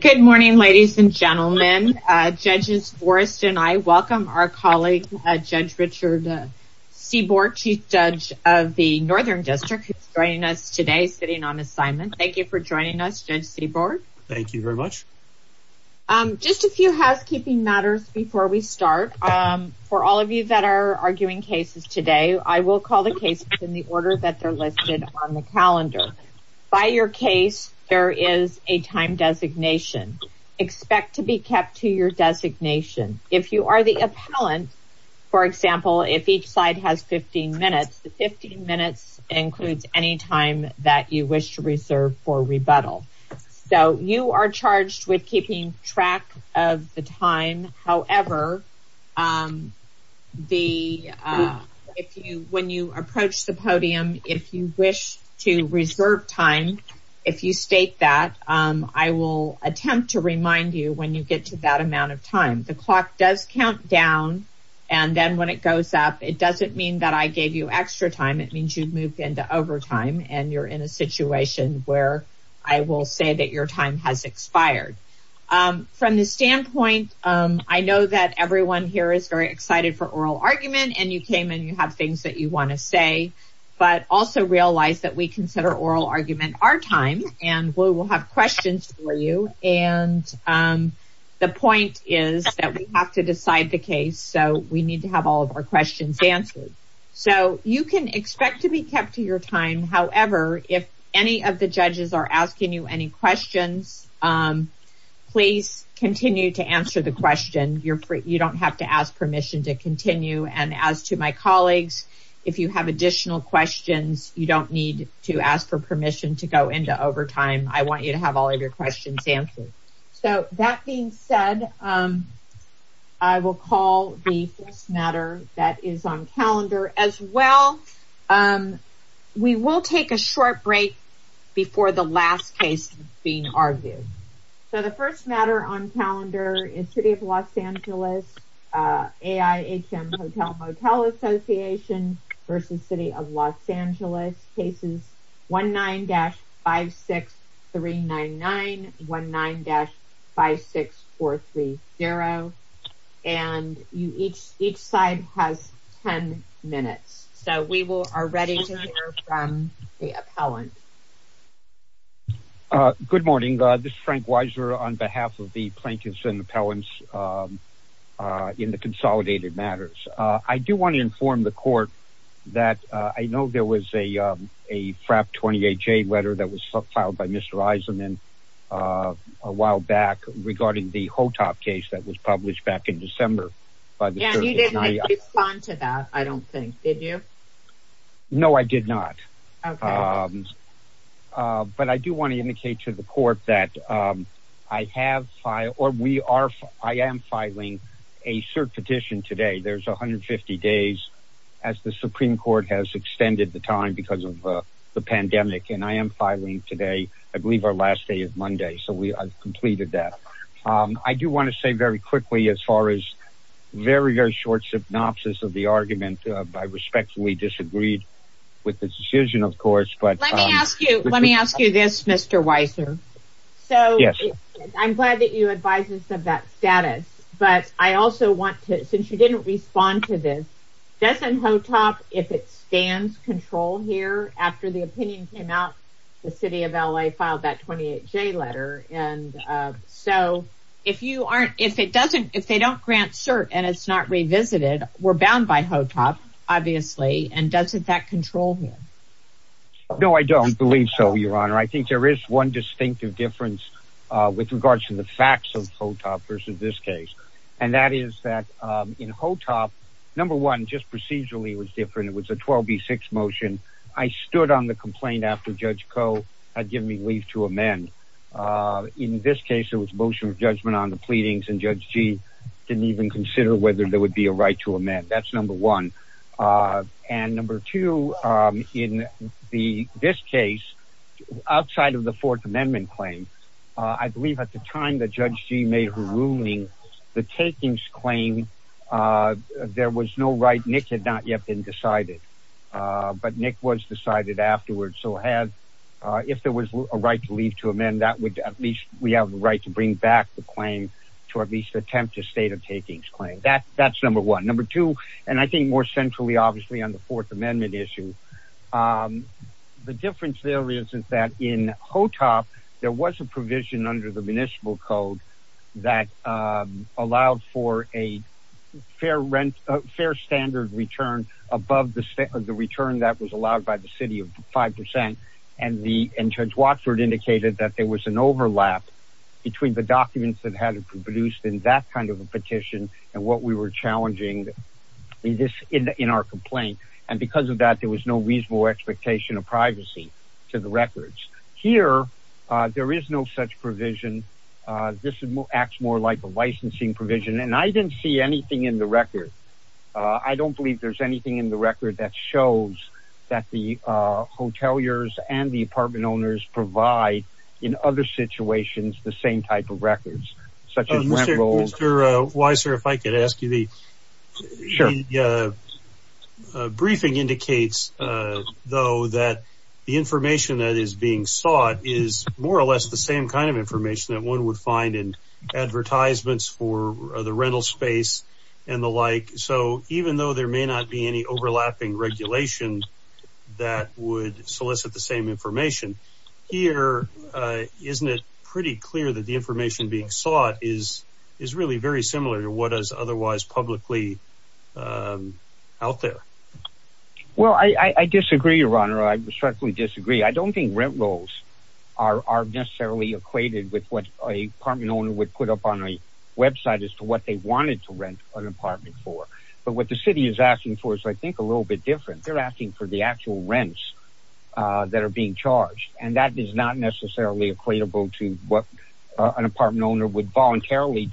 Good morning ladies and gentlemen. Judges Forrest and I welcome our colleague Judge Richard Seaborg, Chief Judge of the Northern District, who is joining us today sitting on assignment. Thank you for joining us, Judge Seaborg. Thank you very much. Just a few housekeeping matters before we start. For all of you that are arguing cases today, I will call the case in the order that they're listed on the calendar. By your case, there is a time designation. Expect to be kept to your designation. If you are the appellant, for example, if each side has 15 minutes, the 15 minutes includes any time that you wish to reserve for rebuttal. You are charged with keeping track of the time. However, when you approach the podium, if you wish to reserve time, if you state that, I will attempt to remind you when you get to that amount of time. The clock does count down and then when it goes up, it doesn't mean that I gave you extra time. It means you've moved into overtime and you're in a situation where I will say that your time has expired. From the standpoint, I know that everyone here is very excited for oral argument and you came and you have things that you want to say, but also realize that we consider oral argument our time and we will have questions for you and the point is that we have to decide the case so we need to have all of our questions answered. You can expect to be kept to your time. However, if any of the judges are asking you any questions, please continue to answer the question. You don't have to ask permission to continue and as to my colleagues, if you have additional questions, you don't need to ask for permission to go into overtime. I want you to have all of your questions answered. So, that being said, I will call the first matter that is on calendar as well. We will take a short break before the last case being argued. So, the first matter on calendar is City of Los Angeles AIHM Hotel Motel Association versus City of Los Angeles. Cases 19-56399, 19-56430 and each side has 10 minutes. So, we are ready to hear from the appellant. Good morning. This is Frank Weiser on behalf of the plaintiffs and appellants in the consolidated matters. I do want to inform the court that I know there was a FRAP 28J letter that was filed by Mr. Eisenman a while back regarding the HOTOP case that was published back in December. You didn't respond to that, I don't think. Did you? No, I did not. Okay. But I do want to indicate to the court that I am filing a cert petition today. There's 150 days as the Supreme Court has extended the time because of the pandemic and I am filing today, I believe our last day is Monday. So, I've completed that. I do want to say very quickly as far as very, very short synopsis of the argument. I respectfully disagreed with the decision, of course. Let me ask you this, Mr. Weiser. So, I'm glad that you advise us of that status, but I also want to, since you didn't respond to this, doesn't HOTOP, if it stands, control here after the opinion came out, the city of L.A. filed that 28J letter and so, if they don't grant cert and it's not revisited, we're bound by HOTOP, obviously, and doesn't that control here? No, I don't believe so, Your Honor. I think there is one distinctive difference with regards to the facts of HOTOP versus this case and that is that in HOTOP, number one, just procedurally was different. It was a 12B6 motion. I stood on the complaint after Judge Koh had given me leave to amend. In this case, it was a motion of judgment on the pleadings and Judge G didn't even consider whether there would be a right to amend. That's number one. And number two, in this case, outside of the Fourth Amendment claim, I believe at the time that Judge G made her ruling, the takings claim, there was no right. Nick had not yet been decided, but Nick was decided afterwards. So, if there was a right to leave to amend, that would, at least, we have the right to bring back the claim to at least attempt a state of takings claim. That's number one. Number two, and I think more centrally, obviously, on the Fourth Amendment issue, the difference there is that in HOTOP, there was a provision under the municipal code that allowed for a fair standard of living. A standard of return above the return that was allowed by the city of 5%. And Judge Watford indicated that there was an overlap between the documents that had been produced in that kind of a petition and what we were challenging in our complaint. And because of that, there was no reasonable expectation of privacy to the records. Here, there is no such provision. This acts more like a licensing provision. And I didn't see anything in the record. I don't believe there's anything in the record that shows that the hoteliers and the apartment owners provide, in other situations, the same type of records. Mr. Weiser, if I could ask you, the briefing indicates, though, that the information that is being sought is more or less the same kind of information that one would find in advertisements for the rental space and the like. So even though there may not be any overlapping regulation that would solicit the same information, here, isn't it pretty clear that the information being sought is really very similar to what is otherwise publicly out there? Well, I disagree, Your Honor. I respectfully disagree. I don't think rent rolls are necessarily equated with what an apartment owner would put up on a website as to what they wanted to rent an apartment for. But what the city is asking for is, I think, a little bit different. They're asking for the actual rents that are being charged. And that is not necessarily equatable to what an apartment owner would voluntarily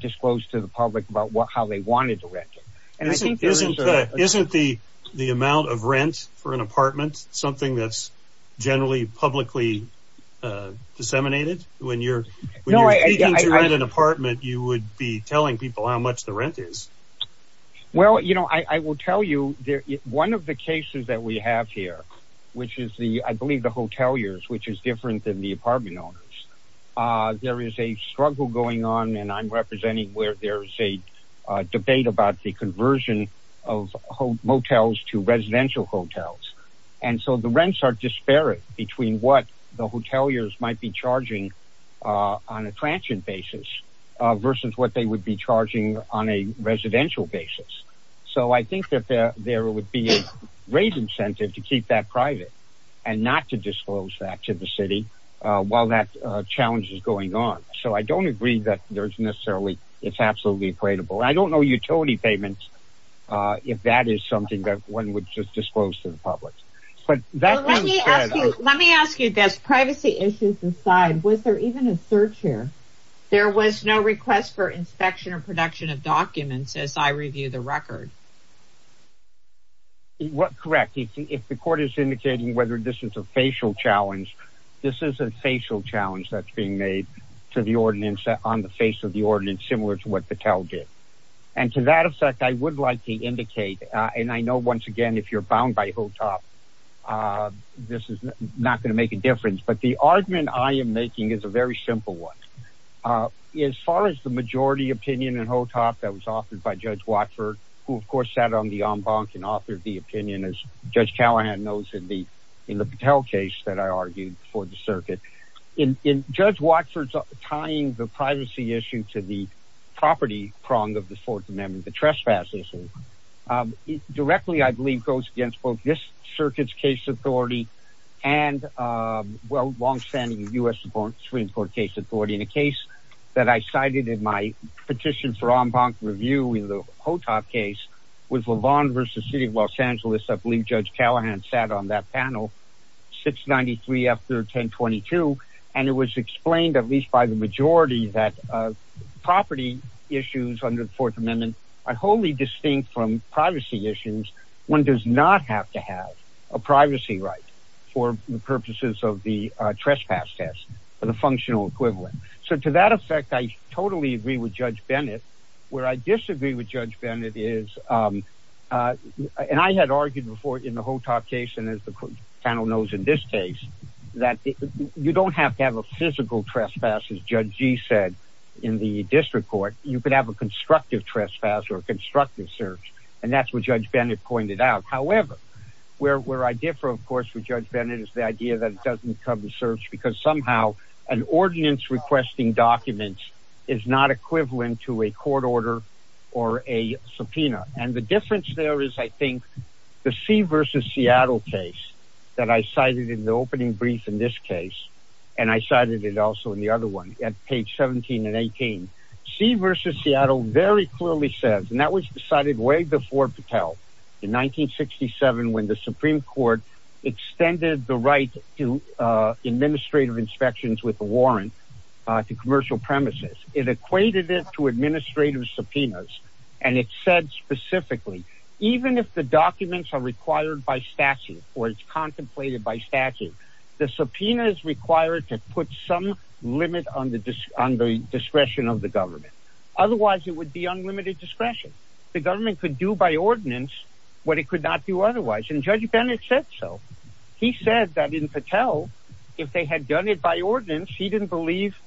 disclose to the public about how they wanted to rent it. Isn't the amount of rent for an apartment something that's generally publicly disseminated? When you're seeking to rent an apartment, you would be telling people how much the rent is. Well, you know, I will tell you, one of the cases that we have here, which is the, I believe, the hoteliers, which is different than the apartment owners, there is a struggle going on and I'm representing where there is a debate about the conversion of motels to residential hotels. And so the rents are disparate between what the hoteliers might be charging on a transient basis versus what they would be charging on a residential basis. So I think that there would be a great incentive to keep that private and not to disclose that to the city while that challenge is going on. So I don't agree that there's necessarily, it's absolutely equatable. I don't know utility payments, if that is something that one would just disclose to the public. Let me ask you this. Privacy issues aside, was there even a search here? There was no request for inspection or production of documents as I review the record. Correct. If the court is indicating whether this is a facial challenge, this is a facial challenge that's being made to the ordinance on the face of the ordinance, similar to what Patel did. And to that effect, I would like to indicate, and I know once again, if you're bound by HOTOP, this is not going to make a difference. But the argument I am making is a very simple one. As far as the majority opinion and HOTOP that was offered by Judge Watford, who of course sat on the en banc and authored the opinion as Judge Callahan knows in the Patel case that I argued for the circuit. In Judge Watford's tying the privacy issue to the property prong of the Fourth Amendment, the trespass issue, directly I believe goes against both this circuit's case authority and long-standing U.S. Supreme Court case authority. In a case that I cited in my petition for en banc review in the HOTOP case with LaVon versus City of Los Angeles, I believe Judge Callahan sat on that panel, 693 after 1022, and it was explained at least by the majority that property issues under the Fourth Amendment are wholly distinct from privacy issues. One does not have to have a privacy right for the purposes of the trespass test for the functional equivalent. So to that effect, I totally agree with Judge Bennett. Where I disagree with Judge Bennett is, and I had argued before in the HOTOP case and as the panel knows in this case, that you don't have to have a physical trespass as Judge Gee said in the district court. You could have a constructive trespass or a constructive search, and that's what Judge Bennett pointed out. However, where I differ, of course, with Judge Bennett is the idea that it doesn't become a search because somehow an ordinance requesting documents is not equivalent to a court order or a subpoena. And the difference there is, I think, the C versus Seattle case that I cited in the opening brief in this case, and I cited it also in the other one at page 17 and 18. C versus Seattle very clearly says, and that was decided way before Patel in 1967 when the Supreme Court extended the right to administrative inspections with a warrant to commercial premises. It equated it to administrative subpoenas, and it said specifically, even if the documents are required by statute or it's contemplated by statute, the subpoena is required to put some limit on the discretion of the government. Otherwise, it would be unlimited discretion. The government could do by ordinance what it could not do otherwise. And Judge Bennett said so. He said that in Patel, if they had done it by ordinance, he didn't believe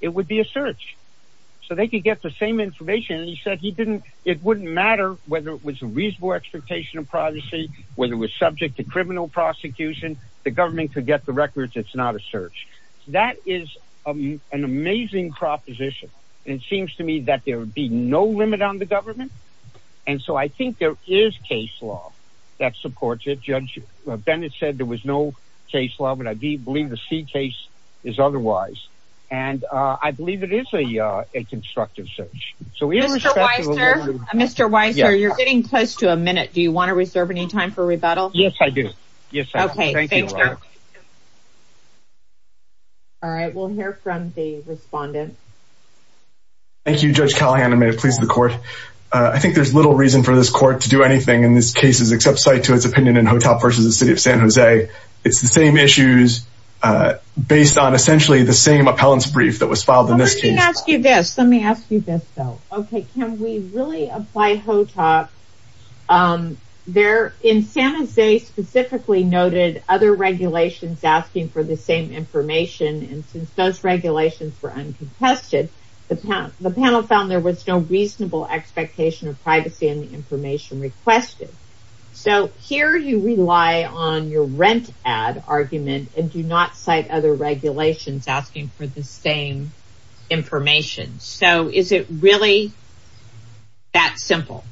it would be a search so they could get the same information. And he said he didn't. It wouldn't matter whether it was a reasonable expectation of privacy, whether it was subject to criminal prosecution, the government could get the records. It's not a search. That is an amazing proposition. And it seems to me that there would be no limit on the government. And so I think there is case law that supports it. Judge Bennett said there was no case law, but I believe the C case is otherwise. And I believe it is a constructive search. Mr. Weiser, you're getting close to a minute. Do you want to reserve any time for rebuttal? Yes, I do. Yes. Okay. Thank you. All right. We'll hear from the respondent. Thank you, Judge Callahan. I may have pleased the court. I think there's little reason for this court to do anything in this case except cite to its opinion in Hotel versus the city of San Jose. It's the same issues based on essentially the same appellants brief that was filed in this case. Let me ask you this, though. Can we really apply HOTOP? In San Jose specifically noted other regulations asking for the same information and since those regulations were uncontested, the panel found there was no reasonable expectation of privacy in the information requested. So here you rely on your rent ad argument and do not cite other regulations asking for the same information. So is it really that simple?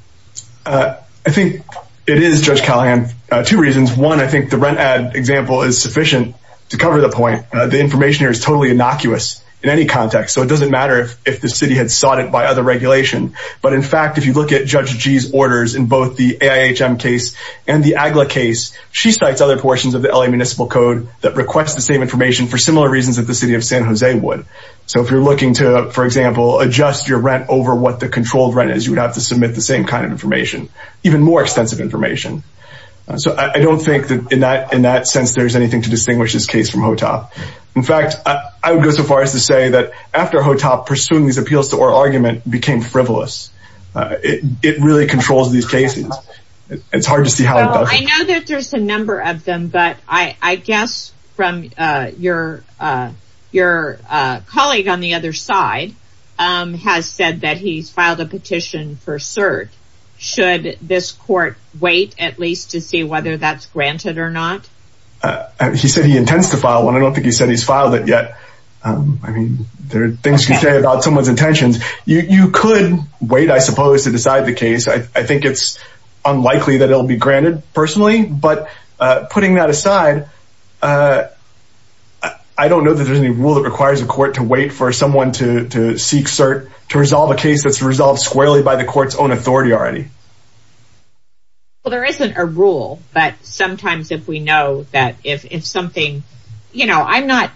I think it is, Judge Callahan. Two reasons. One, I think the rent ad example is sufficient to cover the point. The information here is totally innocuous in any context. So it doesn't matter if the city had sought it by other regulation. But in fact, if you look at Judge G's orders in both the AIHM case and the AGLA case, she cites other portions of the LA Municipal Code that request the same information for similar reasons that the city of San Jose would. So if you're looking to, for example, adjust your rent over what the controlled rent is, you would have to submit the same kind of information, even more extensive information. So I don't think that in that in that sense, there's anything to distinguish this case from HOTOP. In fact, I would go so far as to say that after HOTOP, pursuing these appeals to our argument became frivolous. It really controls these cases. It's hard to see how it does. I know that there's a number of them, but I guess from your your colleague on the other side has said that he's filed a petition for cert. Should this court wait at least to see whether that's granted or not? He said he intends to file one. I don't think he said he's filed it yet. I mean, there are things to say about someone's intentions. You could wait, I suppose, to decide the case. I think it's unlikely that it'll be granted personally. But putting that aside, I don't know that there's any rule that requires a court to wait for someone to seek cert to resolve a case that's resolved squarely by the court's own authority already. Well, there isn't a rule. But sometimes if we know that if something, you know, I'm not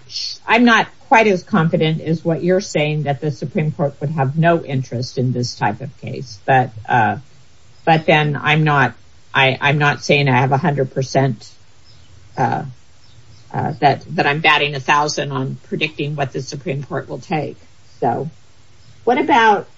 I'm not quite as confident as what you're saying that the Supreme Court would have no interest in this type of case. But but then I'm not I'm not saying I have 100 percent that that I'm batting a thousand on predicting what the Supreme Court will take. So what about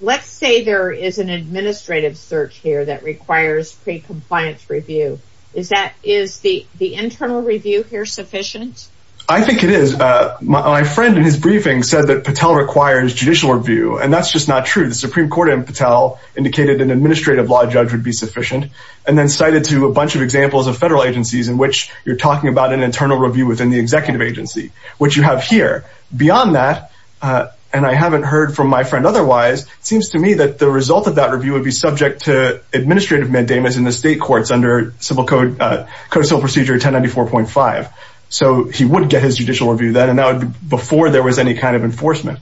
let's say there is an administrative search here that requires pre-compliance review. Is that is the the internal review here sufficient? I think it is. My friend in his briefing said that Patel requires judicial review. And that's just not true. The Supreme Court in Patel indicated an administrative law judge would be sufficient and then cited to a bunch of examples of federal agencies in which you're talking about an internal review within the executive agency, which you have here. But beyond that, and I haven't heard from my friend otherwise, it seems to me that the result of that review would be subject to administrative mandamus in the state courts under civil code, codicil procedure 1094.5. So he would get his judicial review then and now before there was any kind of enforcement.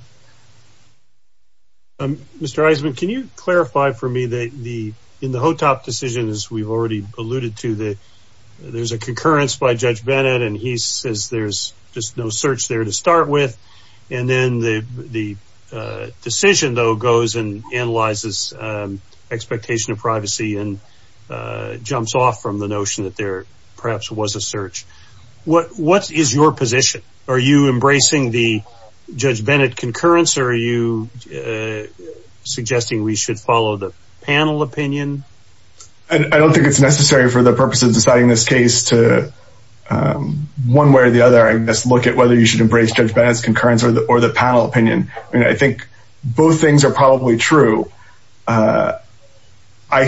Mr. Eisenman, can you clarify for me that the in the Hotop decision, as we've already alluded to, that there's a concurrence by Judge Bennett and he says there's just no search there to start with. And then the decision, though, goes and analyzes expectation of privacy and jumps off from the notion that there perhaps was a search. What what is your position? Are you embracing the Judge Bennett concurrence or are you suggesting we should follow the panel opinion? I don't think it's necessary for the purpose of deciding this case to one way or the other, I guess, look at whether you should embrace Judge Bennett's concurrence or the panel opinion. I think both things are probably true. I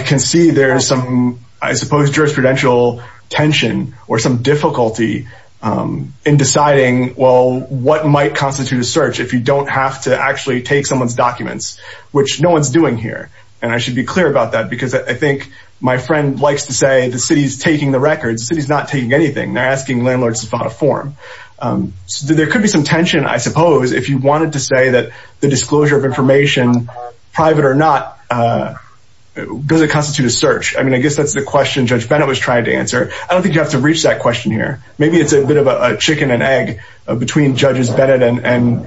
can see there's some, I suppose, jurisprudential tension or some difficulty in deciding, well, what might constitute a search if you don't have to actually take someone's documents, which no one's doing here. And I should be clear about that because I think my friend likes to say the city's taking the records. The city's not taking anything. They're asking landlords to file a form. So there could be some tension, I suppose, if you wanted to say that the disclosure of information, private or not, does it constitute a search? I mean, I guess that's the question Judge Bennett was trying to answer. I don't think you have to reach that question here. Maybe it's a bit of a chicken and egg between Judges Bennett and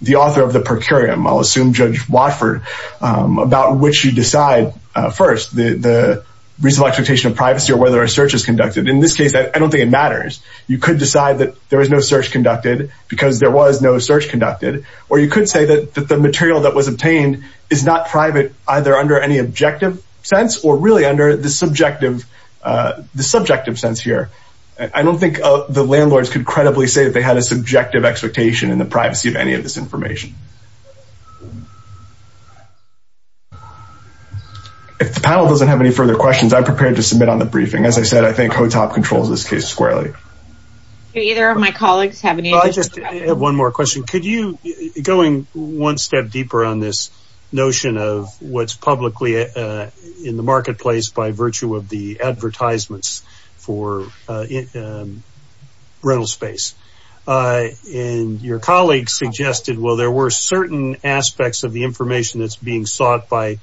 the author of the per curiam, I'll assume Judge Watford, about which you decide first, the reasonable expectation of privacy or whether a search is conducted. In this case, I don't think it matters. You could decide that there was no search conducted because there was no search conducted. Or you could say that the material that was obtained is not private, either under any objective sense or really under the subjective sense here. I don't think the landlords could credibly say that they had a subjective expectation in the privacy of any of this information. If the panel doesn't have any further questions, I'm prepared to submit on the briefing. As I said, I think HOTOP controls this case squarely. Do either of my colleagues have any other questions? I just have one more question. Could you, going one step deeper on this notion of what's publicly in the marketplace by virtue of the advertisements for rental space, and your colleague suggested, well, there were certain aspects of the information that's being sought by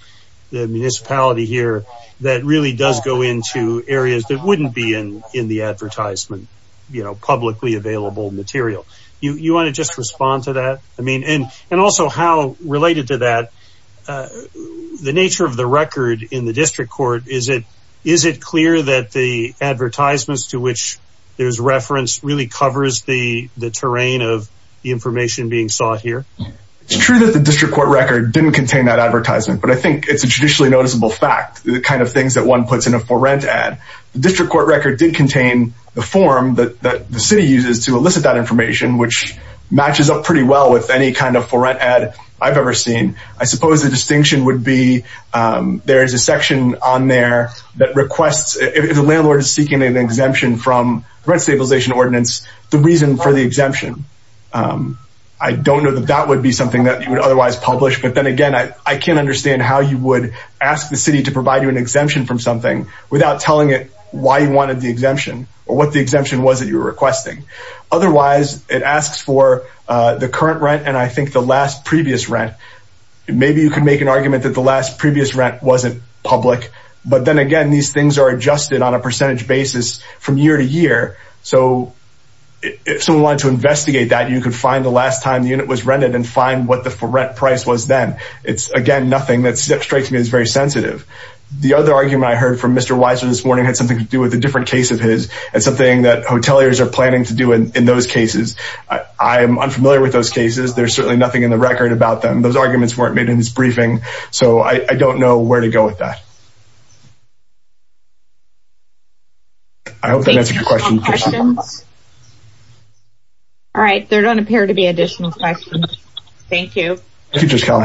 the municipality here that really does go into areas that wouldn't be in the advertisement. You know, publicly available material. You want to just respond to that? I mean, and also how related to that, the nature of the record in the district court, is it clear that the advertisements to which there's reference really covers the terrain of the information being sought here? It's true that the district court record didn't contain that advertisement, but I think it's a traditionally noticeable fact, the kind of things that one puts in a for-rent ad. The district court record did contain the form that the city uses to elicit that information, which matches up pretty well with any kind of for-rent ad I've ever seen. I suppose the distinction would be there is a section on there that requests, if the landlord is seeking an exemption from rent stabilization ordinance, the reason for the exemption. I don't know that that would be something that you would otherwise publish, but then again, I can't understand how you would ask the city to provide you an exemption from something without telling it why you wanted the exemption or what the exemption was that you were requesting. Otherwise, it asks for the current rent and I think the last previous rent. Maybe you can make an argument that the last previous rent wasn't public, but then again, these things are adjusted on a percentage basis from year to year. If someone wanted to investigate that, you could find the last time the unit was rented and find what the for-rent price was then. It's, again, nothing that strikes me as very sensitive. The other argument I heard from Mr. Weiser this morning had something to do with a different case of his. It's something that hoteliers are planning to do in those cases. I am unfamiliar with those cases. There's certainly nothing in the record about them. Those arguments weren't made in this briefing, so I don't know where to go with that. I hope that answers your question. All right, there don't appear to be additional questions. Thank you. All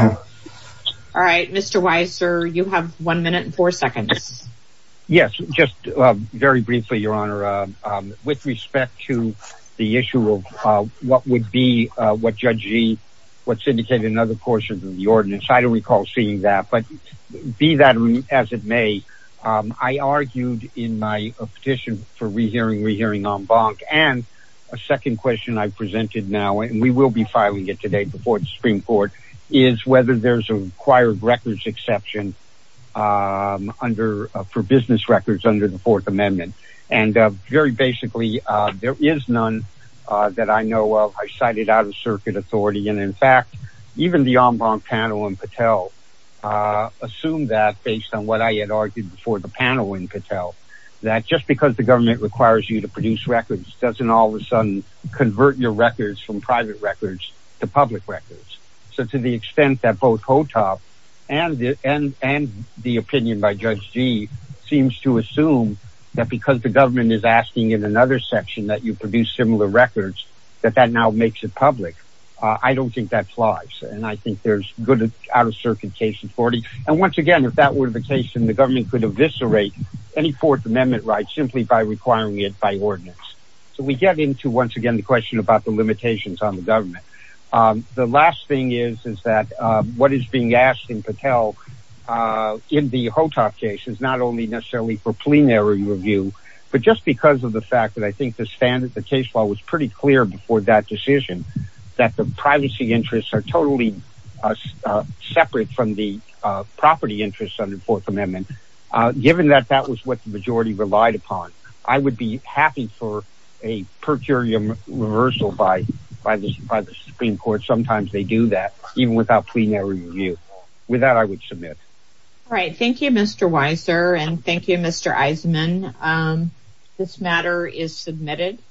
right, Mr. Weiser, you have one minute and four seconds. Yes, just very briefly, Your Honor. With respect to the issue of what would be what Judge Gee, what's indicated in other portions of the ordinance. I don't recall seeing that, but be that as it may, I argued in my petition for rehearing, rehearing en banc. And a second question I've presented now, and we will be filing it today before the Supreme Court, is whether there's a required records exception for business records under the Fourth Amendment. And very basically, there is none that I know of. I cited out-of-circuit authority. And in fact, even the en banc panel in Patel assumed that, based on what I had argued before the panel in Patel, that just because the government requires you to produce records, doesn't all of a sudden convert your records from private records to public records. So to the extent that both HOTOP and the opinion by Judge Gee seems to assume that because the government is asking in another section that you produce similar records, that that now makes it public. I don't think that applies, and I think there's good out-of-circuit case authority. And once again, if that were the case, then the government could eviscerate any Fourth Amendment rights simply by requiring it by ordinance. So we get into, once again, the question about the limitations on the government. The last thing is that what is being asked in Patel in the HOTOP case is not only necessarily for plenary review, but just because of the fact that I think the case law was pretty clear before that decision, that the privacy interests are totally separate from the property interests under the Fourth Amendment. Given that that was what the majority relied upon, I would be happy for a per curiam reversal by the Supreme Court. Sometimes they do that, even without plenary review. With that, I would submit. All right. Thank you, Mr. Weiser, and thank you, Mr. Eisenman. This matter is submitted.